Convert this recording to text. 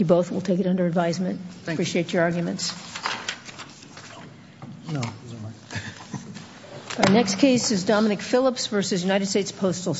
Thank you both, we'll take it under advisement. Appreciate your arguments. Our next case is Dominic Phillips v. United States Postal Service